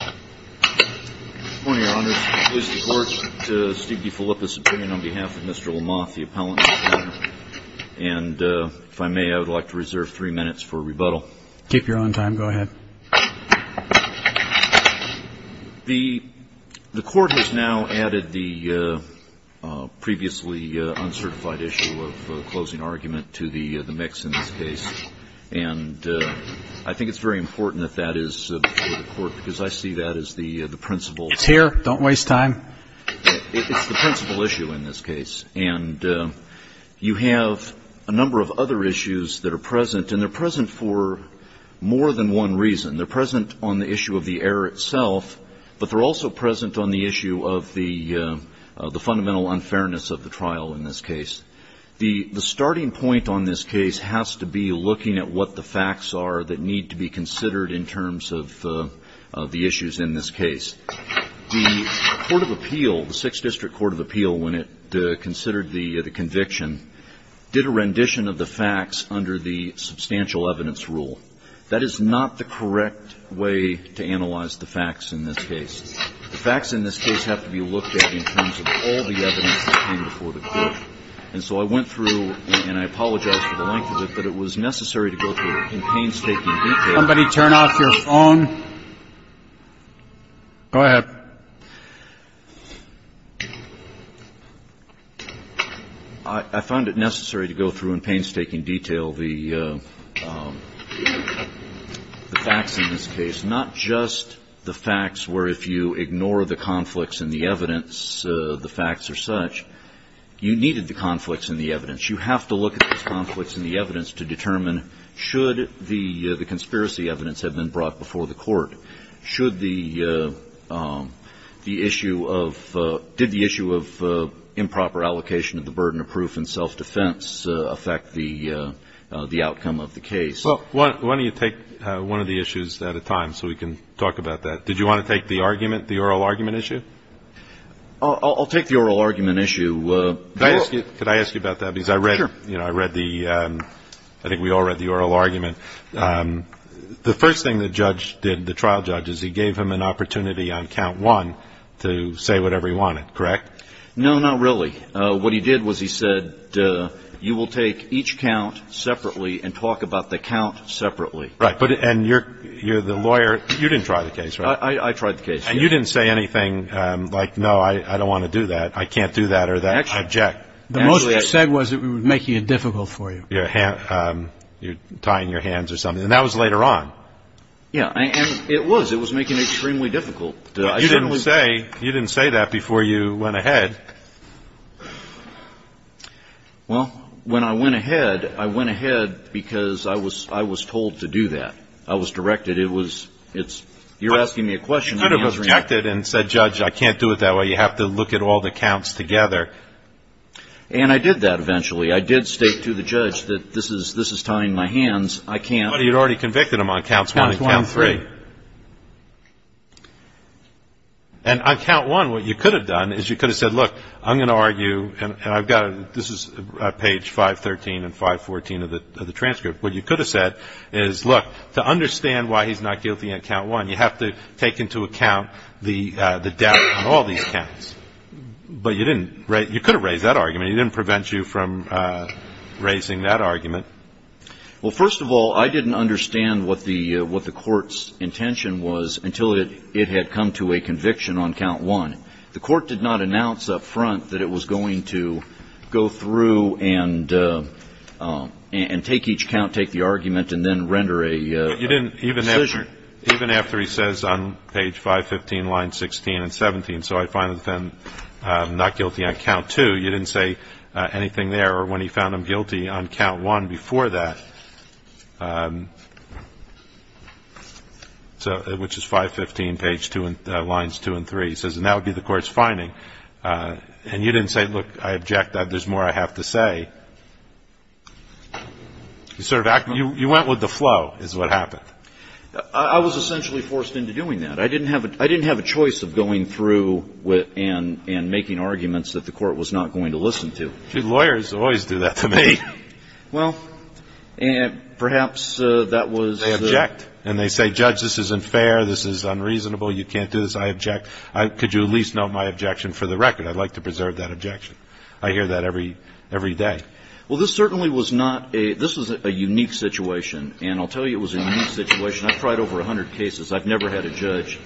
Good morning, Your Honors. It pleases the Court to speak before the Supreme Court on behalf of Mr. Lamothe, the appellant. And if I may, I would like to reserve three minutes for rebuttal. Keep your own time. Go ahead. The Court has now added the previously uncertified issue of closing argument to the mix in this case. And I think it's very important that that is before the Court, because I see that as the principal. It's here. Don't waste time. It's the principal issue in this case. And you have a number of other issues that are present, and they're present for more than one reason. They're present on the issue of the error itself, but they're also present on the issue of the fundamental unfairness of the trial in this case. The starting point on this case has to be looking at what the facts are that need to be considered in terms of the issues in this case. The Court of Appeal, the Sixth District Court of Appeal, when it considered the conviction, did a rendition of the facts under the substantial evidence rule. That is not the correct way to analyze the facts in this case. The facts in this case have to be looked at in terms of all the evidence that came before the Court. And so I went through, and I apologize for the length of it, but it was necessary to go through in painstaking detail. Somebody turn off your phone. Go ahead. I found it necessary to go through in painstaking detail the facts in this case, not just the facts where if you ignore the conflicts in the evidence, the facts are such. You needed the conflicts in the evidence. You have to look at the conflicts in the evidence to determine should the conspiracy evidence have been brought before the Court. Should the issue of improper allocation of the burden of proof and self-defense affect the outcome of the case? Well, why don't you take one of the issues at a time so we can talk about that. Did you want to take the argument, the oral argument issue? I'll take the oral argument issue. Could I ask you about that? Sure. Because I read the, I think we all read the oral argument. The first thing the judge did, the trial judge, is he gave him an opportunity on count one to say whatever he wanted, correct? No, not really. What he did was he said, you will take each count separately and talk about the count separately. Right. And you're the lawyer. You didn't try the case, right? I tried the case. And you didn't say anything like, no, I don't want to do that, I can't do that or that, I object. Actually, the most I said was it would make it difficult for you. You're tying your hands or something. And that was later on. Yeah. And it was. It was making it extremely difficult. You didn't say that before you went ahead. Well, when I went ahead, I went ahead because I was told to do that. I was directed. It was, it's, you're asking me a question. You could have objected and said, Judge, I can't do it that way. You have to look at all the counts together. And I did that eventually. I did state to the judge that this is tying my hands. I can't. Somebody had already convicted him on counts one and three. Counts one and three. And on count one, what you could have done is you could have said, look, I'm going to argue, and I've got a, this is page 513 and 514 of the transcript. What you could have said is, look, to understand why he's not guilty on count one, you have to take into account the doubt on all these counts. But you didn't, you could have raised that argument. He didn't prevent you from raising that argument. Well, first of all, I didn't understand what the court's intention was until it had come to a conviction on count one. The court did not announce up front that it was going to go through and take each count, take the argument, and then render a decision. You didn't, even after he says on page 515, line 16 and 17, so I find him not guilty on count two, you didn't say anything there, or when he found him guilty on count one before that, which is 515, page two, lines two and three. He says, and that would be the court's finding. And you didn't say, look, I object, there's more I have to say. You sort of acted, you went with the flow, is what happened. I was essentially forced into doing that. I didn't have a choice of going through and making arguments that the court was not going to listen to. See, lawyers always do that to me. Well, perhaps that was the ---- They object. And they say, Judge, this isn't fair, this is unreasonable, you can't do this. I object. Could you at least note my objection for the record? I'd like to preserve that objection. I hear that every day. Well, this certainly was not a, this was a unique situation. And I'll tell you it was a unique situation. I've tried over 100 cases. I've never had a judge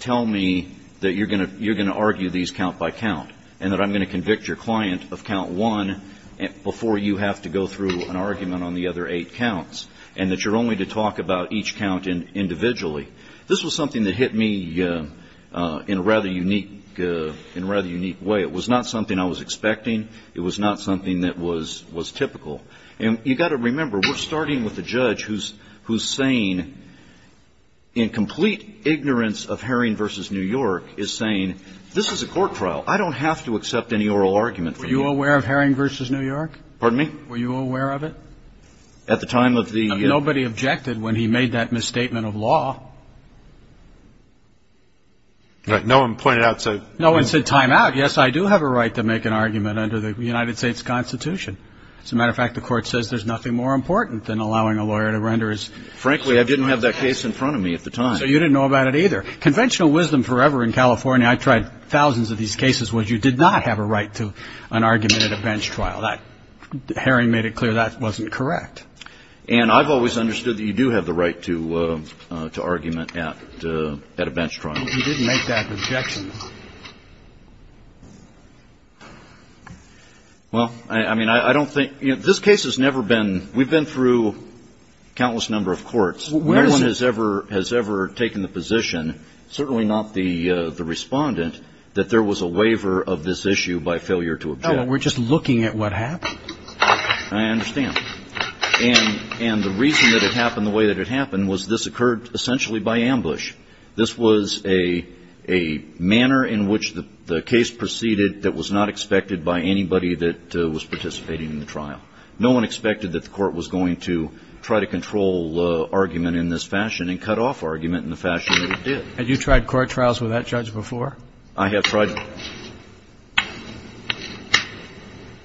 tell me that you're going to argue these count by count, and that I'm going to convict your client of count one before you have to go through an argument on the other eight counts, and that you're only to talk about each count individually. This was something that hit me in a rather unique way. It was not something I was expecting. It was not something that was typical. And you've got to remember, we're starting with a judge who's saying, in complete ignorance of Herring v. New York, is saying, this is a court trial. I don't have to accept any oral argument from you. Were you aware of Herring v. New York? Pardon me? Were you aware of it? At the time of the ---- Nobody objected when he made that misstatement of law. No one pointed out, said ---- No one said time out. Yes, I do have a right to make an argument under the United States Constitution. As a matter of fact, the court says there's nothing more important than allowing a lawyer to render his ---- Frankly, I didn't have that case in front of me at the time. So you didn't know about it either. Conventional wisdom forever in California, I tried thousands of these cases, was you did not have a right to an argument at a bench trial. Herring made it clear that wasn't correct. And I've always understood that you do have the right to argument at a bench trial. He didn't make that objection. Well, I mean, I don't think ---- This case has never been ---- We've been through countless number of courts. No one has ever taken the position, certainly not the Respondent, that there was a waiver of this issue by failure to object. No, we're just looking at what happened. I understand. And the reason that it happened the way that it happened was this occurred essentially by ambush. This was a manner in which the case proceeded that was not expected by anybody that was participating in the trial. No one expected that the court was going to try to control argument in this fashion and cut off argument in the fashion that it did. Had you tried court trials with that judge before? I have tried.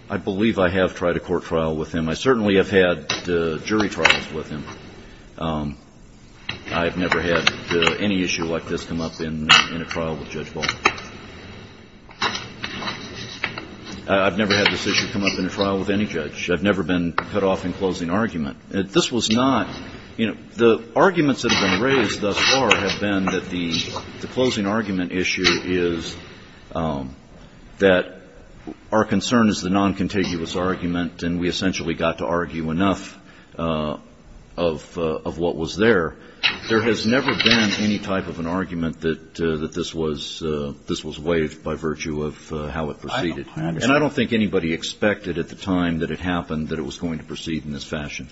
I believe I have tried a court trial with him. I certainly have had jury trials with him. I've never had any issue like this come up in a trial with Judge Baldwin. I've never had this issue come up in a trial with any judge. I've never been cut off in closing argument. This was not ---- The arguments that have been raised thus far have been that the closing argument issue is that our concern is the noncontiguous argument and we essentially got to argue enough of what was there. There has never been any type of an argument that this was waived by virtue of how it proceeded. I understand. And I don't think anybody expected at the time that it happened that it was going to proceed in this fashion.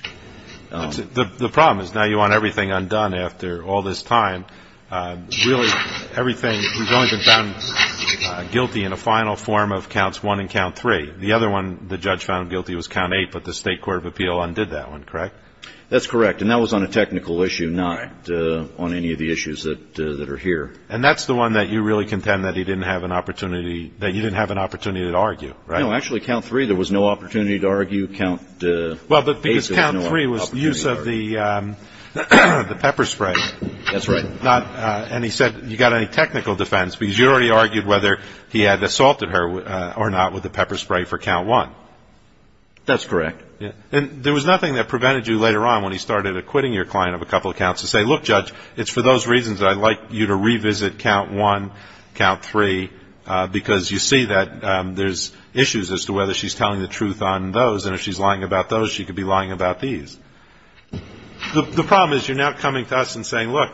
The problem is now you want everything undone after all this time. Really everything has only been found guilty in a final form of counts one and count three. The other one the judge found guilty was count eight, but the State Court of Appeal undid that one, correct? That's correct. And that was on a technical issue, not on any of the issues that are here. And that's the one that you really contend that he didn't have an opportunity, that you didn't have an opportunity to argue, right? No, actually count three there was no opportunity to argue count eight. Well, because count three was the use of the pepper spray. That's right. And he said you got any technical defense because you already argued whether he had assaulted her or not with the pepper spray for count one. That's correct. And there was nothing that prevented you later on when he started acquitting your client of a couple of counts to say, look, Judge, it's for those reasons that I'd like you to revisit count one, count three, because you see that there's issues as to whether she's telling the truth on those, and if she's lying about those, she could be lying about these. The problem is you're now coming to us and saying, look,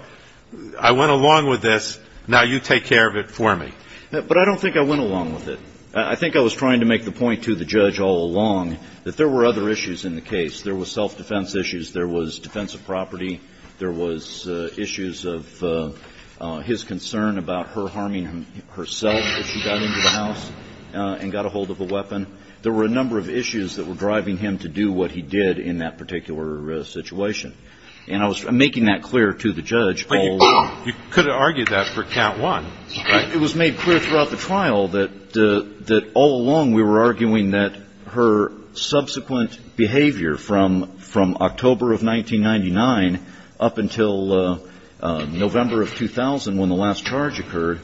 I went along with this. Now you take care of it for me. But I don't think I went along with it. I think I was trying to make the point to the judge all along that there were other issues in the case. There was self-defense issues. There was defensive property. There was issues of his concern about her harming herself if she got into the house and got a hold of a weapon. There were a number of issues that were driving him to do what he did in that particular situation. And I was making that clear to the judge all along. But you could have argued that for count one. It was made clear throughout the trial that all along we were arguing that her subsequent behavior from October of 1999 up until November of 2000 when the last charge occurred,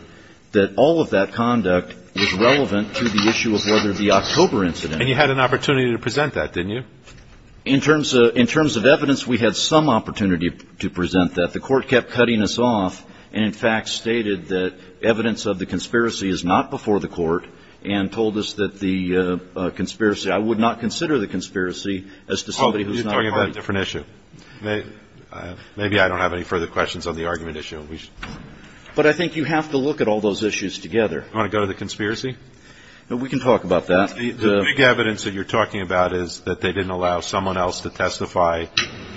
that all of that conduct was relevant to the issue of whether the October incident. And you had an opportunity to present that, didn't you? In terms of evidence, we had some opportunity to present that. The court kept cutting us off and, in fact, stated that evidence of the conspiracy is not before the court and told us that the conspiracy, I would not consider the conspiracy as to somebody who's not part of it. You're talking about a different issue. Maybe I don't have any further questions on the argument issue. But I think you have to look at all those issues together. You want to go to the conspiracy? We can talk about that. The big evidence that you're talking about is that they didn't allow someone else to testify.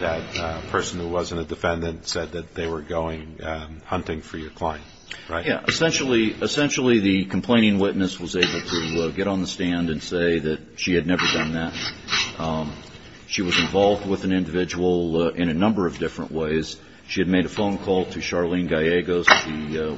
That person who wasn't a defendant said that they were going hunting for your client, right? Essentially, the complaining witness was able to get on the stand and say that she had never done that. She was involved with an individual in a number of different ways. She had made a phone call to Charlene Gallegos,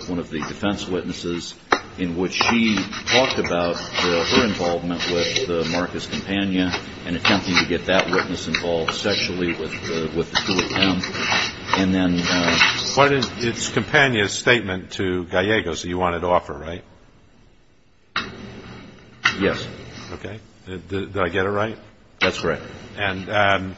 one of the defense witnesses, in which she talked about her involvement with Marcus Campagna and attempting to get that witness involved sexually with the two of them. And then – It's Campagna's statement to Gallegos that you wanted to offer, right? Yes. Okay. Did I get it right? That's correct. And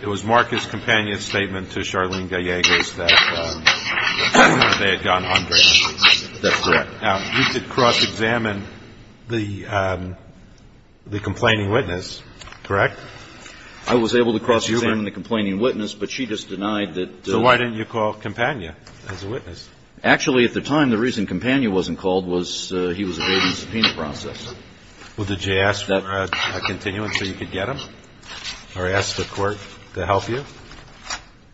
it was Marcus Campagna's statement to Charlene Gallegos that they had gone hunting. That's correct. Now, you did cross-examine the complaining witness, correct? I was able to cross-examine the complaining witness, but she just denied that – So why didn't you call Campagna as a witness? Actually, at the time, the reason Campagna wasn't called was he was evading the subpoena process. Well, did you ask for a continuance so you could get him? Or ask the court to help you?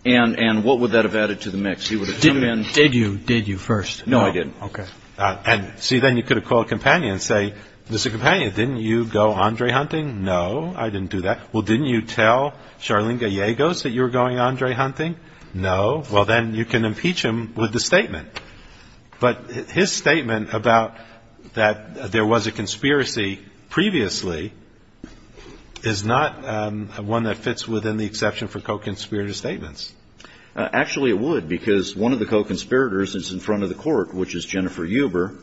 And what would that have added to the mix? Did you? Did you first? No, I didn't. Okay. And, see, then you could have called Campagna and say, Mr. Campagna, didn't you go Andre hunting? No, I didn't do that. Well, didn't you tell Charlene Gallegos that you were going Andre hunting? No. Well, then you can impeach him with the statement. But his statement about that there was a conspiracy previously is not one that fits within the exception for co-conspirator statements. Actually, it would, because one of the co-conspirators is in front of the court, which is Jennifer Huber,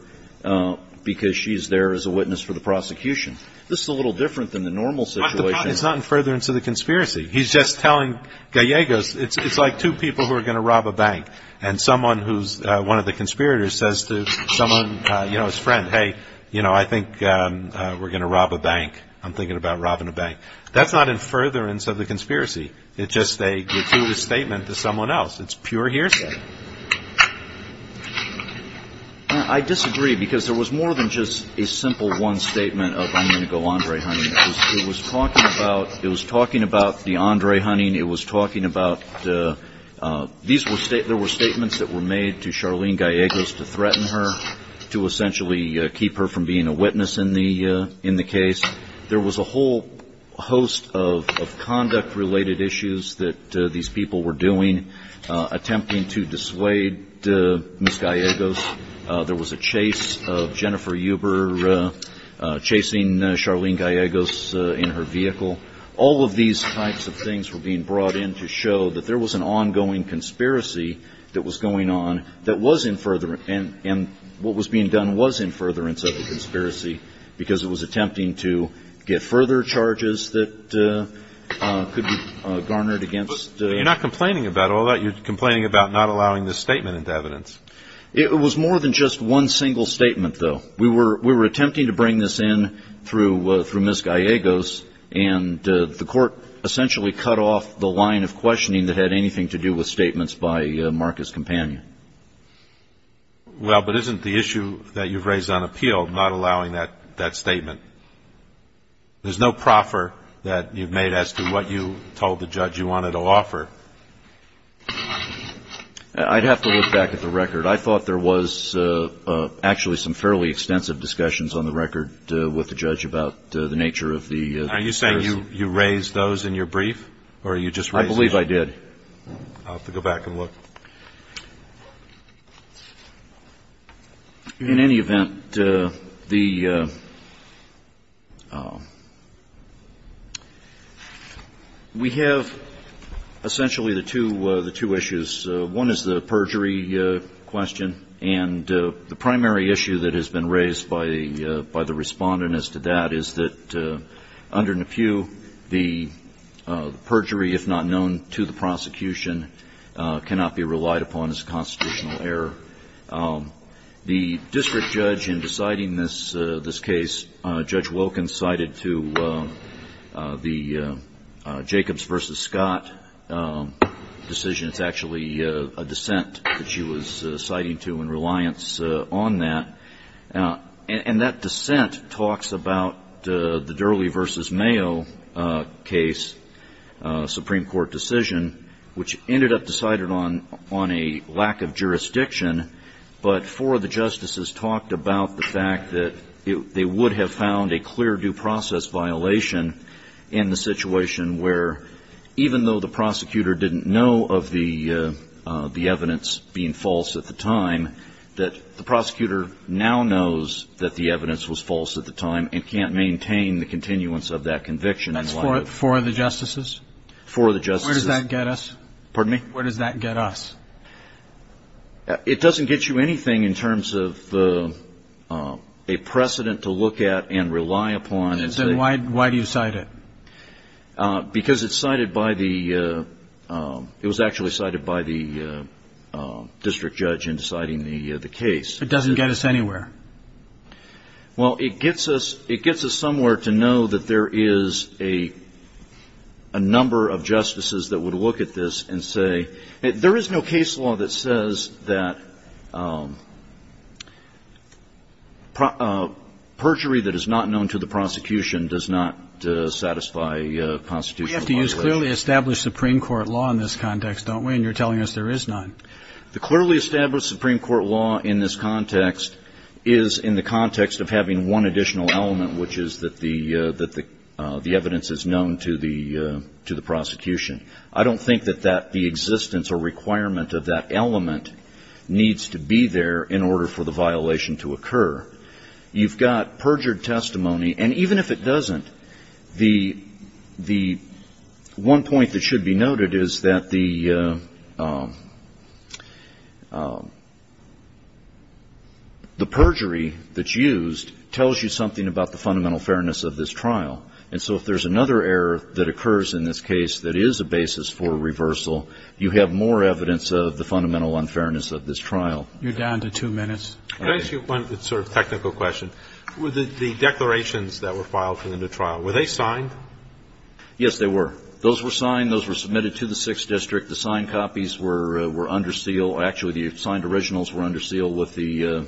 because she's there as a witness for the prosecution. This is a little different than the normal situation. But the problem is not in furtherance of the conspiracy. He's just telling Gallegos it's like two people who are going to rob a bank. And someone who's one of the conspirators says to someone, you know, his friend, hey, you know, I think we're going to rob a bank. I'm thinking about robbing a bank. That's not in furtherance of the conspiracy. It's just a gratuitous statement to someone else. It's pure hearsay. I disagree, because there was more than just a simple one statement of I'm going to go Andre hunting. It was talking about the Andre hunting. It was talking about there were statements that were made to Charlene Gallegos to threaten her, to essentially keep her from being a witness in the case. There was a whole host of conduct-related issues that these people were doing, attempting to dissuade Ms. Gallegos. There was a chase of Jennifer Huber chasing Charlene Gallegos in her vehicle. All of these types of things were being brought in to show that there was an ongoing conspiracy that was going on that was in furtherance. And what was being done was in furtherance of the conspiracy, because it was attempting to get further charges that could be garnered against. You're not complaining about all that. You're complaining about not allowing this statement into evidence. It was more than just one single statement, though. We were attempting to bring this in through Ms. Gallegos, and the court essentially cut off the line of questioning that had anything to do with statements by Marcus Companion. Well, but isn't the issue that you've raised on appeal not allowing that statement? There's no proffer that you've made as to what you told the judge you wanted to offer. I'd have to look back at the record. I thought there was actually some fairly extensive discussions on the record with the judge about the nature of the conspiracy. Are you saying you raised those in your brief, or you just raised those? I believe I did. I'll have to go back and look. In any event, the we have essentially the two issues. One is the perjury question. And the primary issue that has been raised by the Respondent as to that is that under Nepew, the perjury, if not known to the prosecution, cannot be relied upon as constitutional error. The district judge in deciding this case, Judge Wilkins, cited to the Jacobs v. Scott decision. It's actually a dissent that she was citing to in reliance on that. And that dissent talks about the Durley v. Mayo case, Supreme Court decision, which ended up decided on a lack of jurisdiction, but four of the justices talked about the fact that they would have found a clear due process violation in the situation where, even though the prosecutor didn't know of the evidence being false at the time, that the prosecutor now knows that the evidence was false at the time and can't maintain the continuance of that conviction. That's four of the justices? Four of the justices. Where does that get us? Pardon me? Where does that get us? It doesn't get you anything in terms of a precedent to look at and rely upon. Then why do you cite it? Because it's cited by the ‑‑ it was actually cited by the district judge in deciding the case. It doesn't get us anywhere. Well, it gets us somewhere to know that there is a number of justices that would look at this and say, There is no case law that says that perjury that is not known to the prosecution does not satisfy constitutional violation. We have to use clearly established Supreme Court law in this context, don't we? And you're telling us there is none. The clearly established Supreme Court law in this context is in the context of having one additional element, which is that the evidence is known to the prosecution. I don't think that the existence or requirement of that element needs to be there in order for the violation to occur. You've got perjured testimony, and even if it doesn't, the one point that should be noted is that the perjury that's used tells you something about the fundamental fairness of this trial. And so if there's another error that occurs in this case that is a basis for reversal, you have more evidence of the fundamental unfairness of this trial. You're down to two minutes. Can I ask you one sort of technical question? With the declarations that were filed in the trial, were they signed? Yes, they were. Those were signed. Those were submitted to the 6th District. The signed copies were under seal. Actually, the signed originals were under seal with the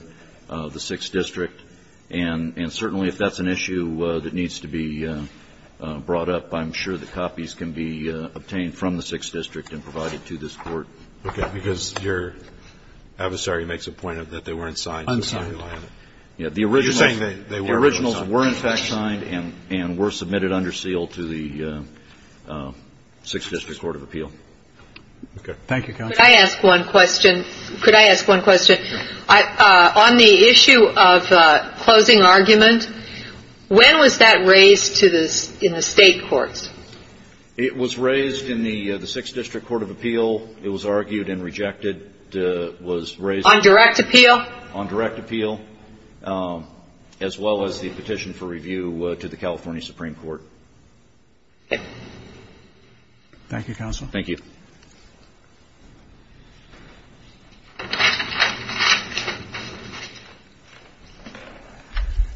6th District. And certainly if that's an issue that needs to be brought up, I'm sure the copies can be obtained from the 6th District and provided to this Court. Okay. Because your adversary makes a point that they weren't signed. Unsigned. You're saying they were unsigned. The originals were in fact signed and were submitted under seal to the 6th District court of appeal. Okay. Thank you, counsel. Could I ask one question? Could I ask one question? Sure. On the issue of closing argument, when was that raised in the state courts? It was raised in the 6th District court of appeal. It was argued and rejected. On direct appeal? On direct appeal, as well as the petition for review to the California Supreme Court. Okay. Thank you, counsel. Thank you.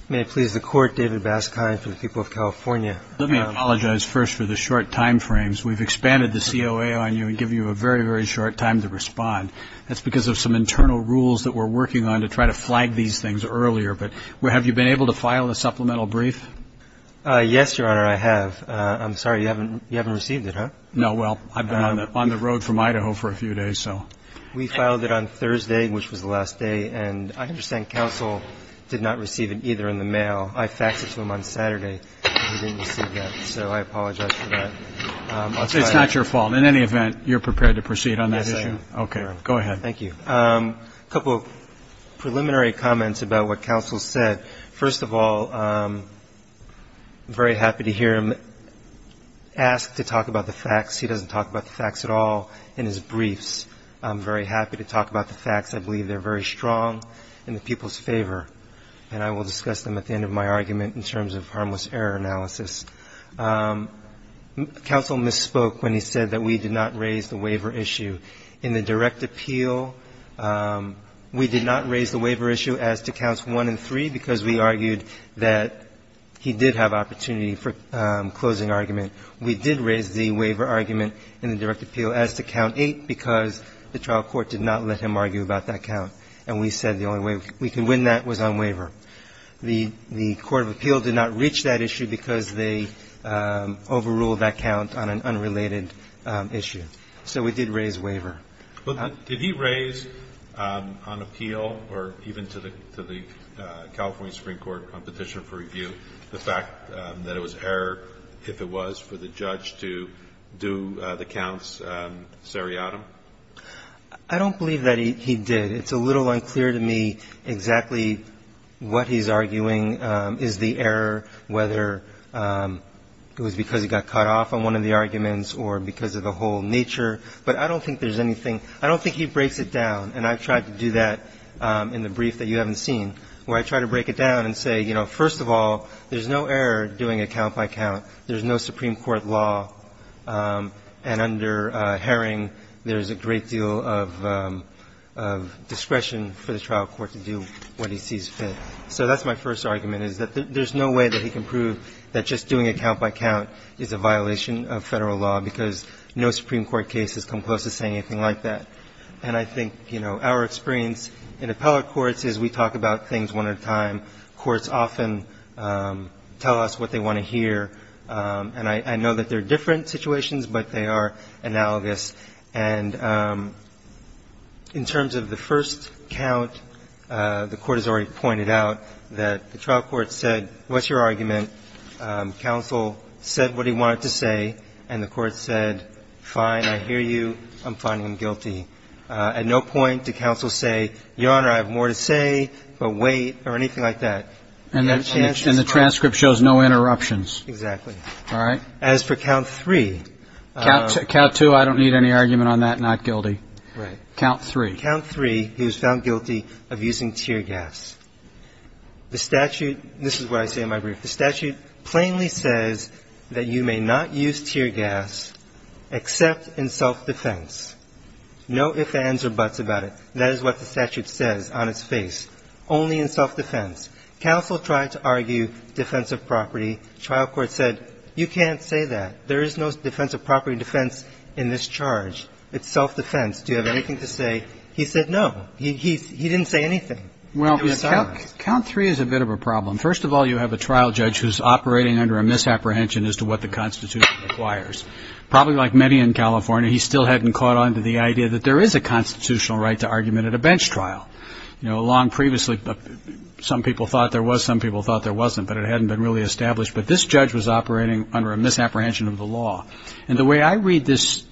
May it please the Court, David Baskind for the people of California. Let me apologize first for the short time frames. We've expanded the COA on you and given you a very, very short time to respond. That's because of some internal rules that we're working on to try to flag these things earlier. But have you been able to file a supplemental brief? Yes, Your Honor, I have. I'm sorry, you haven't received it, huh? No. Well, I've been on the road from Idaho for a few days, so. We filed it on Thursday, which was the last day. And I understand counsel did not receive it either in the mail. I faxed it to him on Saturday. He didn't receive that, so I apologize for that. It's not your fault. In any event, you're prepared to proceed on that issue? Yes, I am. Okay. Go ahead. Thank you. A couple of preliminary comments about what counsel said. First of all, I'm very happy to hear him ask to talk about the facts. He doesn't talk about the facts at all in his briefs. I'm very happy to talk about the facts. I believe they're very strong in the people's favor. And I will discuss them at the end of my argument in terms of harmless error analysis. Counsel misspoke when he said that we did not raise the waiver issue. In the direct appeal, we did not raise the waiver issue as to counts one and three because we argued that he did have opportunity for closing argument. We did raise the waiver argument in the direct appeal as to count eight because the trial court did not let him argue about that count. And we said the only way we could win that was on waiver. The court of appeal did not reach that issue because they overruled that count on an unrelated issue. So we did raise waiver. Well, did he raise on appeal or even to the California Supreme Court on petition for review the fact that it was error if it was for the judge to do the counts seriatim? I don't believe that he did. It's a little unclear to me exactly what he's arguing is the error, whether it was because he got cut off on one of the arguments or because of the whole nature. But I don't think there's anything. I don't think he breaks it down. And I've tried to do that in the brief that you haven't seen, where I try to break it down and say, you know, first of all, there's no error doing it count by count. There's no Supreme Court law. And under Herring, there's a great deal of discretion for the trial court to do what he sees fit. So that's my first argument, is that there's no way that he can prove that just doing it count by count is a violation of Federal law because no Supreme Court case has come close to saying anything like that. And I think, you know, our experience in appellate courts is we talk about things one at a time. Courts often tell us what they want to hear. And I know that they're different situations, but they are analogous. And in terms of the first count, the Court has already pointed out that the trial court said, what's your argument? Counsel said what he wanted to say, and the Court said, fine, I hear you. I'm finding him guilty. At no point did counsel say, Your Honor, I have more to say, but wait, or anything like that. And the transcript shows no interruptions. Exactly. All right? As for count three. Count two, I don't need any argument on that. Not guilty. Right. Count three. Count three, he was found guilty of using tear gas. The statute, this is what I say in my brief, the statute plainly says that you may not use tear gas except in self-defense. No ifs, ands, or buts about it. That is what the statute says on its face. Only in self-defense. Counsel tried to argue defensive property. Trial court said, you can't say that. There is no defensive property defense in this charge. It's self-defense. Do you have anything to say? He said no. He didn't say anything. Well, count three is a bit of a problem. First of all, you have a trial judge who's operating under a misapprehension as to what the Constitution requires. Probably like many in California, he still hadn't caught on to the idea that there is a constitutional right to argument at a bench trial. You know, long previously some people thought there was, some people thought there wasn't, but it hadn't been really established. But this judge was operating under a misapprehension of the law. And the way I read this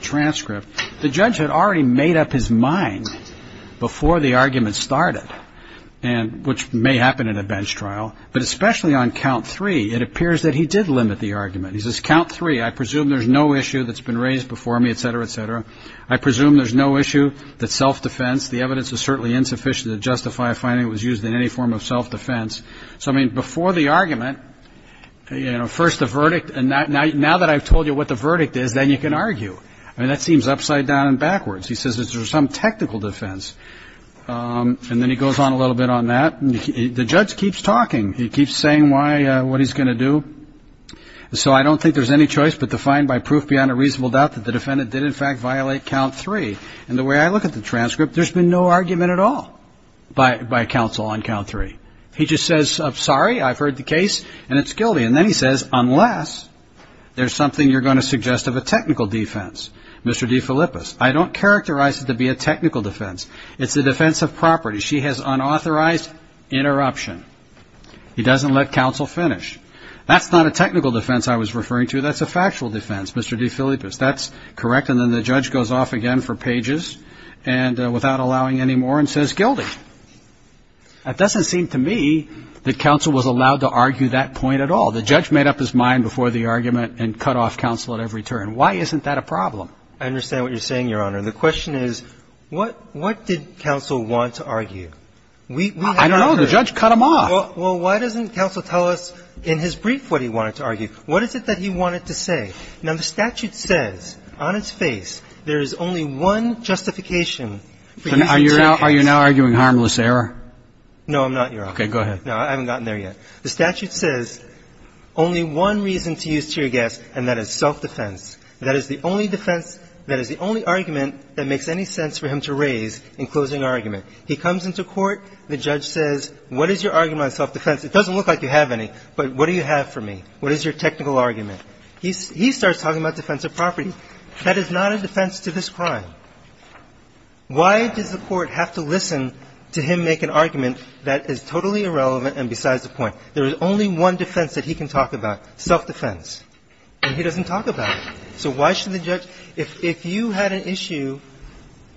transcript, the judge had already made up his mind before the argument started, which may happen at a bench trial. But especially on count three, it appears that he did limit the argument. He says, count three, I presume there's no issue that's been raised before me, et cetera, et cetera. I presume there's no issue that self-defense, the evidence is certainly insufficient to justify a finding that was used in any form of self-defense. So, I mean, before the argument, you know, first the verdict, and now that I've told you what the verdict is, then you can argue. I mean, that seems upside down and backwards. He says that there's some technical defense. And then he goes on a little bit on that. The judge keeps talking. He keeps saying what he's going to do. So I don't think there's any choice but to find by proof beyond a reasonable doubt that the defendant did in fact violate count three. And the way I look at the transcript, there's been no argument at all by counsel on count three. He just says, sorry, I've heard the case, and it's guilty. And then he says, unless there's something you're going to suggest of a technical defense. Mr. DeFilippis, I don't characterize it to be a technical defense. It's a defense of property. She has unauthorized interruption. He doesn't let counsel finish. That's not a technical defense I was referring to. That's a factual defense, Mr. DeFilippis. That's correct. And then the judge goes off again for pages and without allowing any more and says, guilty. It doesn't seem to me that counsel was allowed to argue that point at all. The judge made up his mind before the argument and cut off counsel at every turn. Why isn't that a problem? I understand what you're saying, Your Honor. The question is, what did counsel want to argue? I don't know. The judge cut him off. Well, why doesn't counsel tell us in his brief what he wanted to argue? What is it that he wanted to say? Now, the statute says on its face there is only one justification for using tear gas. Are you now arguing harmless error? No, I'm not, Your Honor. Okay. Go ahead. No, I haven't gotten there yet. The statute says only one reason to use tear gas, and that is self-defense. That is the only defense, that is the only argument that makes any sense for him to raise in closing argument. He comes into court. The judge says, what is your argument on self-defense? It doesn't look like you have any, but what do you have for me? What is your technical argument? He starts talking about defense of property. That is not a defense to this crime. Why does the court have to listen to him make an argument that is totally irrelevant and besides the point? There is only one defense that he can talk about, self-defense, and he doesn't have to talk about it. So why should the judge – if you had an issue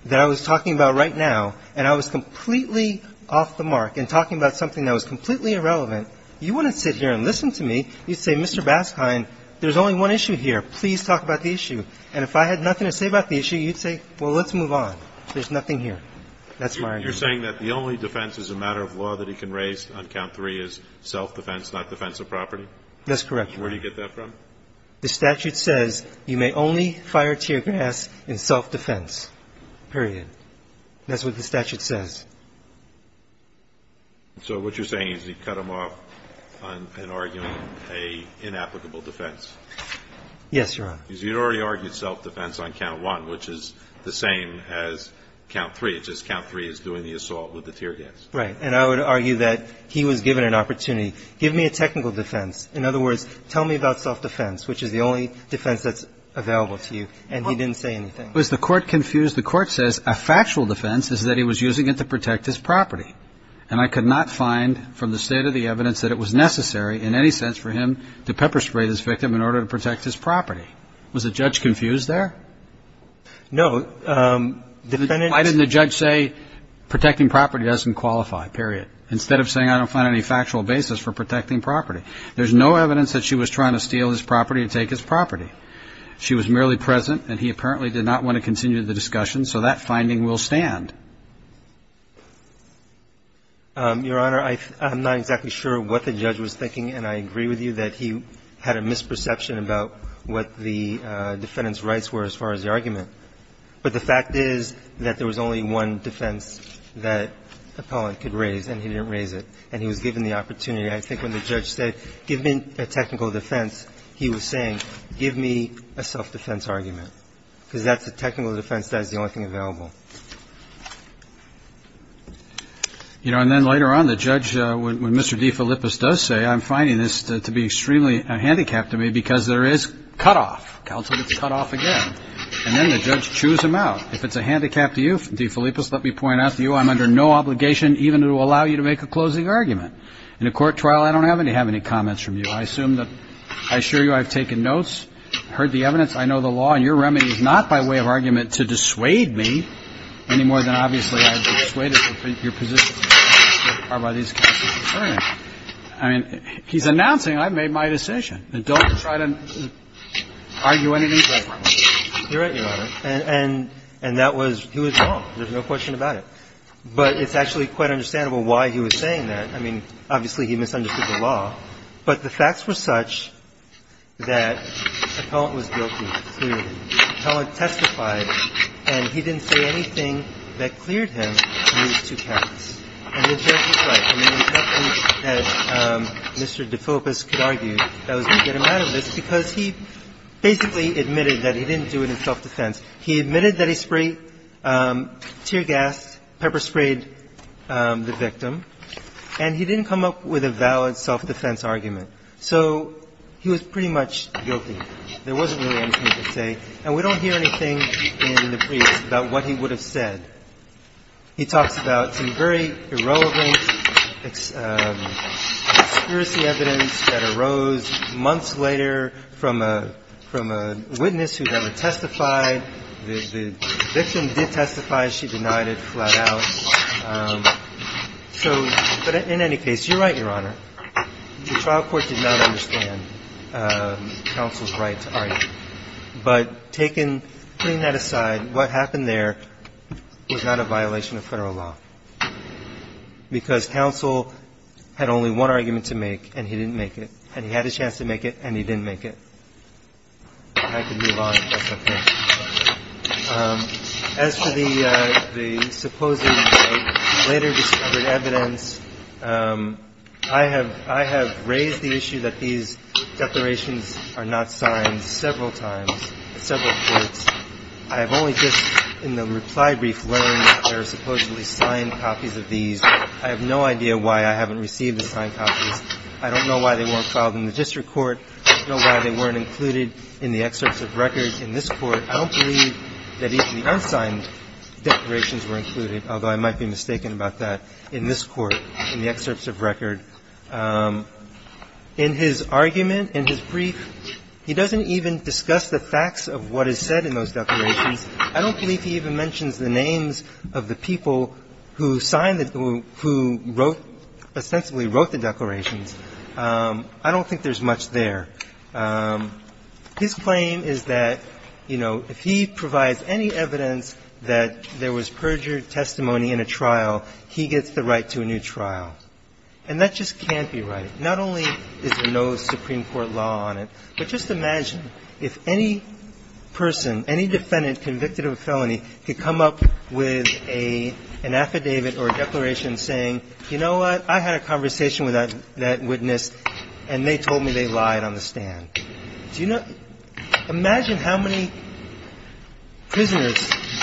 that I was talking about right now and I was completely off the mark and talking about something that was completely irrelevant, you wouldn't sit here and listen to me. You'd say, Mr. Baskine, there's only one issue here. Please talk about the issue. And if I had nothing to say about the issue, you'd say, well, let's move on. There's nothing here. That's my argument. You're saying that the only defense as a matter of law that he can raise on count three is self-defense, not defense of property? That's correct, Your Honor. Where do you get that from? The statute says you may only fire tear gas in self-defense, period. That's what the statute says. So what you're saying is you cut him off in arguing an inapplicable defense? Yes, Your Honor. Because you'd already argued self-defense on count one, which is the same as count three. It's just count three is doing the assault with the tear gas. Right. And I would argue that he was given an opportunity. Give me a technical defense. In other words, tell me about self-defense, which is the only defense that's available to you. And he didn't say anything. Was the court confused? The court says a factual defense is that he was using it to protect his property. And I could not find from the state of the evidence that it was necessary in any sense for him to pepper spray this victim in order to protect his property. Was the judge confused there? No. Why didn't the judge say protecting property doesn't qualify, period, instead of saying I don't find any factual basis for protecting property? There's no evidence that she was trying to steal his property or take his property. She was merely present, and he apparently did not want to continue the discussion, so that finding will stand. Your Honor, I'm not exactly sure what the judge was thinking, and I agree with you that he had a misperception about what the defendant's rights were as far as the argument. But the fact is that there was only one defense that Appellant could raise, and he didn't raise it. And he was given the opportunity. I think when the judge said, give me a technical defense, he was saying, give me a self-defense argument, because that's a technical defense. That's the only thing available. You know, and then later on, the judge, when Mr. DeFilippis does say, I'm finding this to be extremely handicapped to me because there is cutoff. Counsel gets cutoff again. And then the judge chews him out. If it's a handicap to you, DeFilippis, let me point out to you, I'm under no obligation even to allow you to make a closing argument. In a court trial, I don't have to have any comments from you. I assume that – I assure you I've taken notes, heard the evidence, I know the law, and your remedy is not by way of argument to dissuade me any more than obviously I'd be dissuaded from your position as far as these cases are concerned. I mean, he's announcing I've made my decision. Don't try to argue anything. You're right, Your Honor. And that was – he was wrong. There's no question about it. But it's actually quite understandable why he was saying that. I mean, obviously he misunderstood the law. But the facts were such that Appellant was guilty, clearly. Appellant testified, and he didn't say anything that cleared him of these two counts. And the judge was right. I mean, there's nothing that Mr. DeFilippis could argue that was going to get him out of this because he basically admitted that he didn't do it in self-defense. He admitted that he sprayed – tear-gassed, pepper-sprayed the victim. And he didn't come up with a valid self-defense argument. So he was pretty much guilty. There wasn't really anything to say. And we don't hear anything in the briefs about what he would have said. He talks about some very irrelevant conspiracy evidence that arose months later from a witness who never testified. The victim did testify. She denied it flat out. So – but in any case, you're right, Your Honor. The trial court did not understand counsel's right to argue. But taken – putting that aside, what happened there was not a violation of Federal law because counsel had only one argument to make, and he didn't make it. And he had a chance to make it, and he didn't make it. And I can move on if that's okay. As for the supposed later discovered evidence, I have raised the issue that these declarations are not signed several times at several courts. I have only just in the reply brief learned that there are supposedly signed copies of these. I have no idea why I haven't received the signed copies. I don't know why they weren't filed in the district court. I don't know why they weren't included in the excerpts of record in this court. I don't believe that even the unsigned declarations were included, although I might be mistaken about that, in this court, in the excerpts of record. In his argument, in his brief, he doesn't even discuss the facts of what is said in those declarations. I don't believe he even mentions the names of the people who signed the, who wrote, ostensibly wrote the declarations. I don't think there's much there. His claim is that, you know, if he provides any evidence that there was perjured testimony in a trial, he gets the right to a new trial. And that just can't be right. Not only is there no Supreme Court law on it, but just imagine if any person, any defendant convicted of a felony, could come up with an affidavit or a declaration saying, you know what, I had a conversation with that witness, and they told me they lied on the stand. Do you know, imagine how many prisoners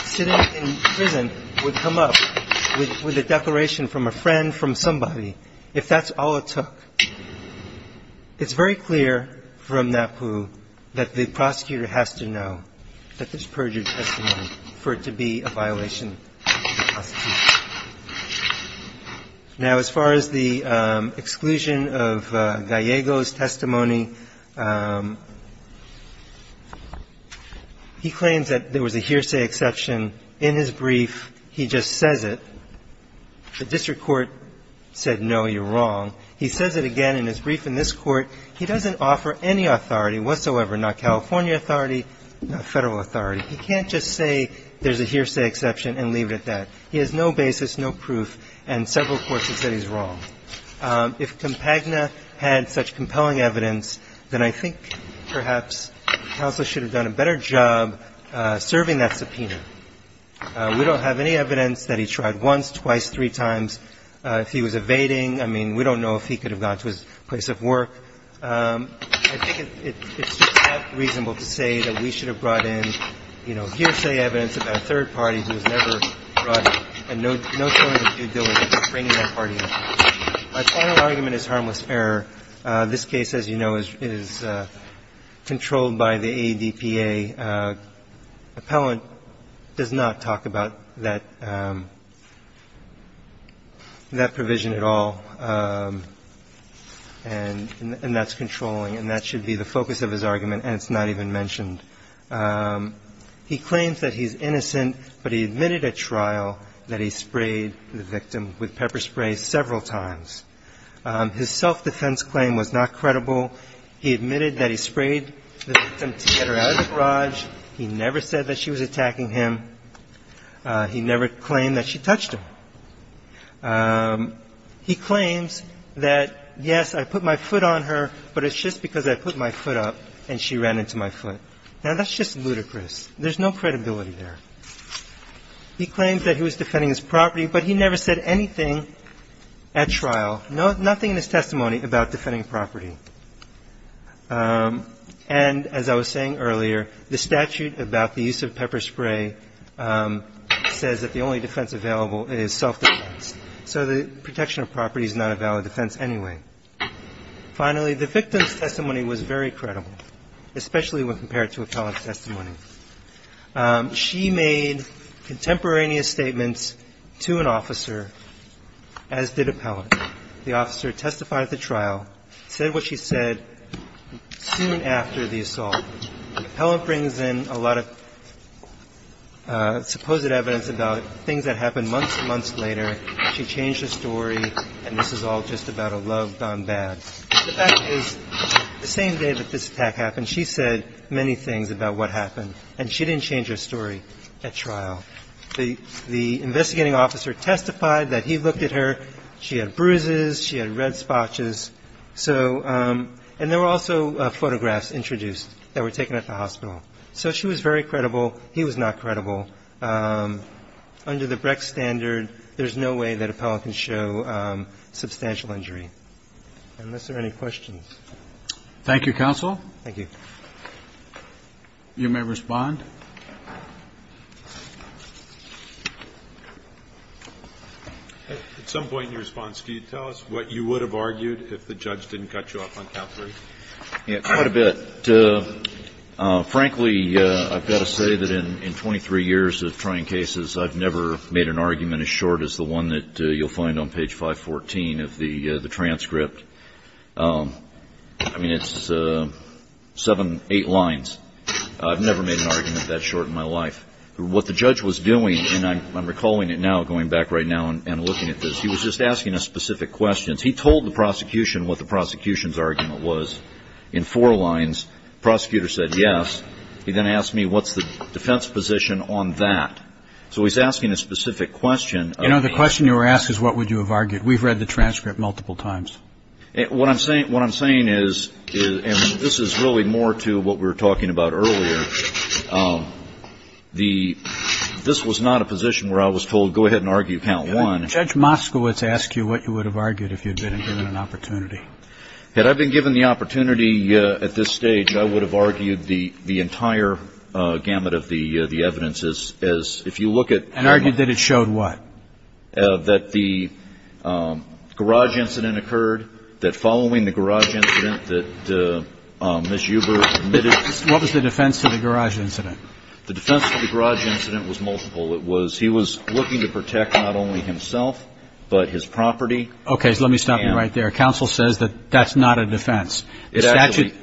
sitting in prison would come up with a declaration from a friend, from somebody, if that's all it took. It's very clear from NAPU that the prosecutor has to know that there's perjured testimony for it to be a violation of the prosecution. Now, as far as the exclusion of Gallego's testimony, he claims that there was a hearsay exception in his brief. He just says it. The district court said, no, you're wrong. He says it again in his brief in this Court. He doesn't offer any authority whatsoever, not California authority, not Federal authority. He can't just say there's a hearsay exception and leave it at that. He has no basis, no proof, and several courts have said he's wrong. If Compagna had such compelling evidence, then I think perhaps counsel should have done a better job serving that subpoena. We don't have any evidence that he tried once, twice, three times. If he was evading, I mean, we don't know if he could have gone to his place of work. I think it's just not reasonable to say that we should have brought in, you know, hearsay evidence about a third party who has never brought a note showing his due diligence in bringing that party in. My final argument is harmless error. This case, as you know, is controlled by the ADPA. The appellant does not talk about that provision at all, and that's controlling, and that should be the focus of his argument, and it's not even mentioned. He claims that he's innocent, but he admitted at trial that he sprayed the victim with pepper spray several times. His self-defense claim was not credible. He admitted that he sprayed the victim to get her out of the garage. He never said that she was attacking him. He never claimed that she touched him. He claims that, yes, I put my foot on her, but it's just because I put my foot up and she ran into my foot. Now, that's just ludicrous. There's no credibility there. He claims that he was defending his property, but he never said anything at trial, nothing in his testimony about defending property. And as I was saying earlier, the statute about the use of pepper spray says that the only defense available is self-defense. So the protection of property is not a valid defense anyway. Finally, the victim's testimony was very credible, especially when compared to appellant's testimony. She made contemporaneous statements to an officer, as did appellant. The officer testified at the trial, said what she said soon after the assault. Appellant brings in a lot of supposed evidence about things that happened months and months later. She changed the story, and this is all just about a love gone bad. The fact is, the same day that this attack happened, she said many things about what happened, and she didn't change her story at trial. The investigating officer testified that he looked at her. She had bruises. She had red spotches. So ñ and there were also photographs introduced that were taken at the hospital. So she was very credible. He was not credible. Under the Brecht standard, there's no way that appellant can show substantial injury, unless there are any questions. Thank you, counsel. Thank you. You may respond. At some point in your response, can you tell us what you would have argued if the judge didn't cut you off on Cal 3? Quite a bit. Frankly, I've got to say that in 23 years of trying cases, I've never made an argument as short as the one that you'll find on page 514 of the transcript. I mean, it's seven, eight lines. I've never made an argument that short in my life. What the judge was doing, and I'm recalling it now, going back right now and looking at this, he was just asking us specific questions. He told the prosecution what the prosecution's argument was in four lines. The prosecutor said yes. He then asked me what's the defense position on that. So he's asking a specific question. You know, the question you were asked is what would you have argued. We've read the transcript multiple times. What I'm saying is, and this is really more to what we were talking about earlier, this was not a position where I was told go ahead and argue count one. Judge Moskowitz asked you what you would have argued if you'd been given an opportunity. Had I been given the opportunity at this stage, I would have argued the entire gamut of the evidence as, if you look at. And argued that it showed what? That the garage incident occurred, that following the garage incident that Ms. Huber admitted. What was the defense to the garage incident? The defense to the garage incident was multiple. It was he was looking to protect not only himself, but his property. Okay, so let me stop you right there. Counsel says that that's not a defense. It actually,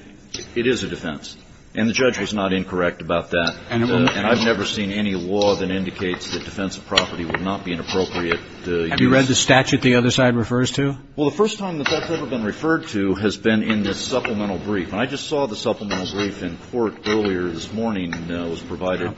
it is a defense. And the judge was not incorrect about that. And I've never seen any law that indicates that defensive property would not be inappropriate. Have you read the statute the other side refers to? Well, the first time that that's ever been referred to has been in the supplemental brief. And I just saw the supplemental brief in court earlier this morning. It was provided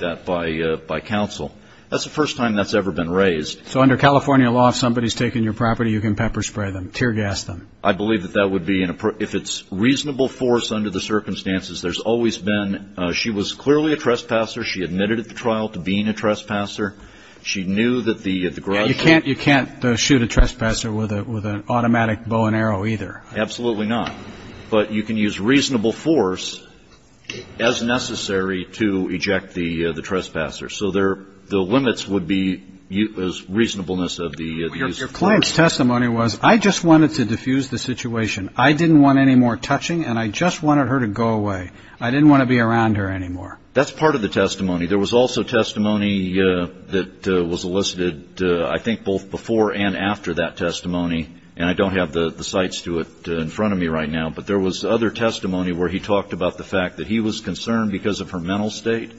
that by counsel. That's the first time that's ever been raised. So under California law, if somebody's taking your property, you can pepper spray them, tear gas them. I believe that that would be, if it's reasonable force under the circumstances, there's always been, she was clearly a trespasser. She admitted at the trial to being a trespasser. She knew that the garage. You can't shoot a trespasser with an automatic bow and arrow either. Absolutely not. But you can use reasonable force as necessary to eject the trespasser. So the limits would be reasonableness of the use of force. Your client's testimony was, I just wanted to diffuse the situation. I didn't want any more touching, and I just wanted her to go away. I didn't want to be around her anymore. That's part of the testimony. There was also testimony that was elicited, I think, both before and after that testimony. And I don't have the sites to it in front of me right now. But there was other testimony where he talked about the fact that he was concerned because of her mental state.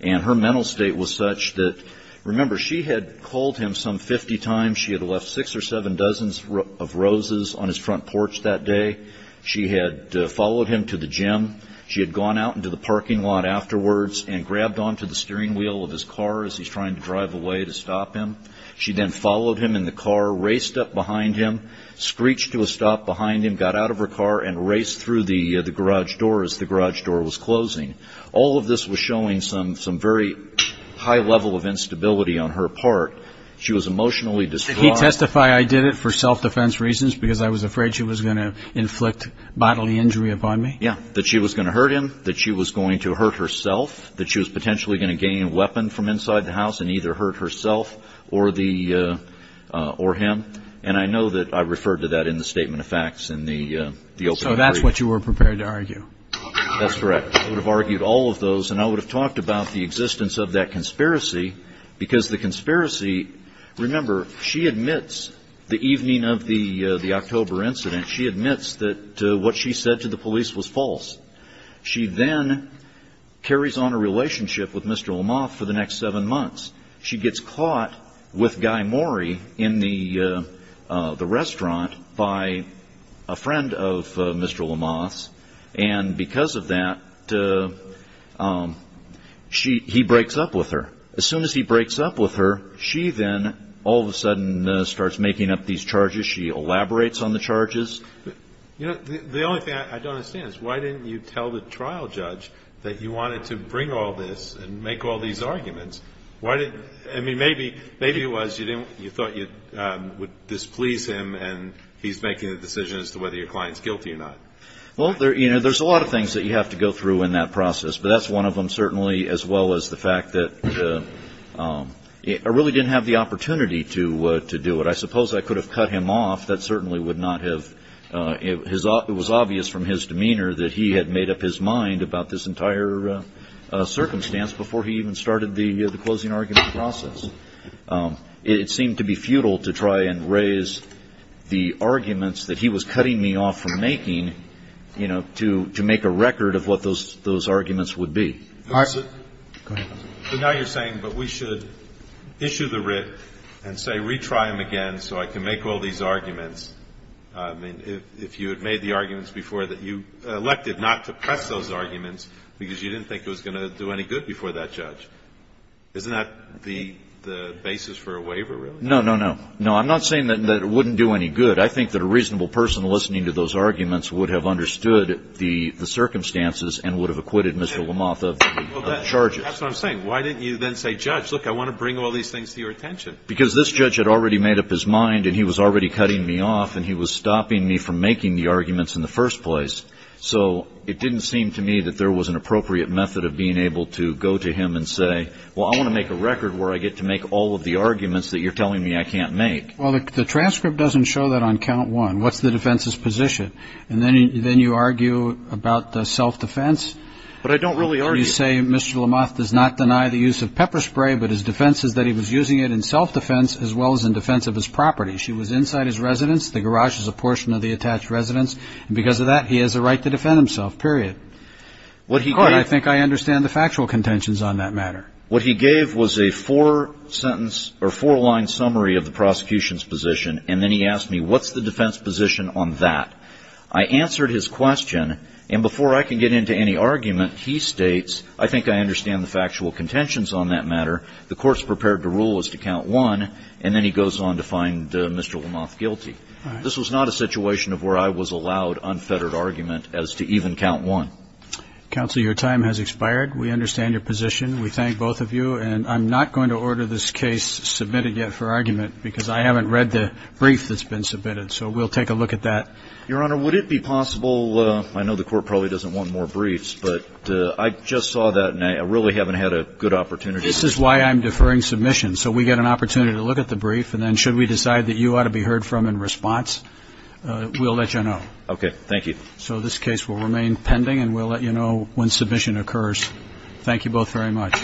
And her mental state was such that, remember, she had called him some 50 times. She had left six or seven dozens of roses on his front porch that day. She had followed him to the gym. She had gone out into the parking lot afterwards and grabbed onto the steering wheel of his car as he's trying to drive away to stop him. She then followed him in the car, raced up behind him, screeched to a stop behind him, got out of her car and raced through the garage door as the garage door was closing. All of this was showing some very high level of instability on her part. She was emotionally distraught. Did he testify I did it for self-defense reasons because I was afraid she was going to inflict bodily injury upon me? Yeah, that she was going to hurt him, that she was going to hurt herself, that she was potentially going to gain a weapon from inside the house and either hurt herself or him. And I know that I referred to that in the statement of facts in the open brief. So that's what you were prepared to argue? That's correct. I would have argued all of those, and I would have talked about the existence of that conspiracy because the conspiracy, remember, she admits the evening of the October incident, she admits that what she said to the police was false. She then carries on a relationship with Mr. Lamothe for the next seven months. She gets caught with Guy Maury in the restaurant by a friend of Mr. Lamothe's, and because of that, he breaks up with her. As soon as he breaks up with her, she then all of a sudden starts making up these charges. She elaborates on the charges. The only thing I don't understand is why didn't you tell the trial judge that you wanted to bring all this and make all these arguments? I mean, maybe it was you thought you would displease him, and he's making a decision as to whether your client's guilty or not. Well, there's a lot of things that you have to go through in that process, but that's one of them, certainly, as well as the fact that I really didn't have the opportunity to do it. I suppose I could have cut him off. That certainly would not have. It was obvious from his demeanor that he had made up his mind about this entire circumstance before he even started the closing argument process. It seemed to be futile to try and raise the arguments that he was cutting me off from making, you know, to make a record of what those arguments would be. Now you're saying, but we should issue the writ and say retry him again so I can make all these arguments. I mean, if you had made the arguments before that you elected not to press those arguments because you didn't think it was going to do any good before that judge. Isn't that the basis for a waiver, really? No, no, no. No, I'm not saying that it wouldn't do any good. I think that a reasonable person listening to those arguments would have understood the circumstances and would have acquitted Mr. Lamothe of the charges. That's what I'm saying. Why didn't you then say, Judge, look, I want to bring all these things to your attention? Because this judge had already made up his mind and he was already cutting me off and he was stopping me from making the arguments in the first place. So it didn't seem to me that there was an appropriate method of being able to go to him and say, well, I want to make a record where I get to make all of the arguments that you're telling me I can't make. Well, the transcript doesn't show that on count one. What's the defense's position? And then you argue about the self-defense. But I don't really argue. You say Mr. Lamothe does not deny the use of pepper spray, but his defense is that he was using it in self-defense as well as in defense of his property. She was inside his residence. The garage is a portion of the attached residence. And because of that, he has a right to defend himself, period. In court, I think I understand the factual contentions on that matter. What he gave was a four-sentence or four-line summary of the prosecution's position, and then he asked me, what's the defense position on that? I answered his question, and before I can get into any argument, he states, I think I understand the factual contentions on that matter. The court's prepared to rule as to count one, and then he goes on to find Mr. Lamothe guilty. This was not a situation of where I was allowed unfettered argument as to even count one. Counsel, your time has expired. We understand your position. We thank both of you. And I'm not going to order this case submitted yet for argument because I haven't read the brief that's been submitted. So we'll take a look at that. Your Honor, would it be possible, I know the court probably doesn't want more briefs, but I just saw that and I really haven't had a good opportunity. This is why I'm deferring submission. So we get an opportunity to look at the brief, and then should we decide that you ought to be heard from in response, we'll let you know. Okay. Thank you. So this case will remain pending, and we'll let you know when submission occurs. Thank you both very much.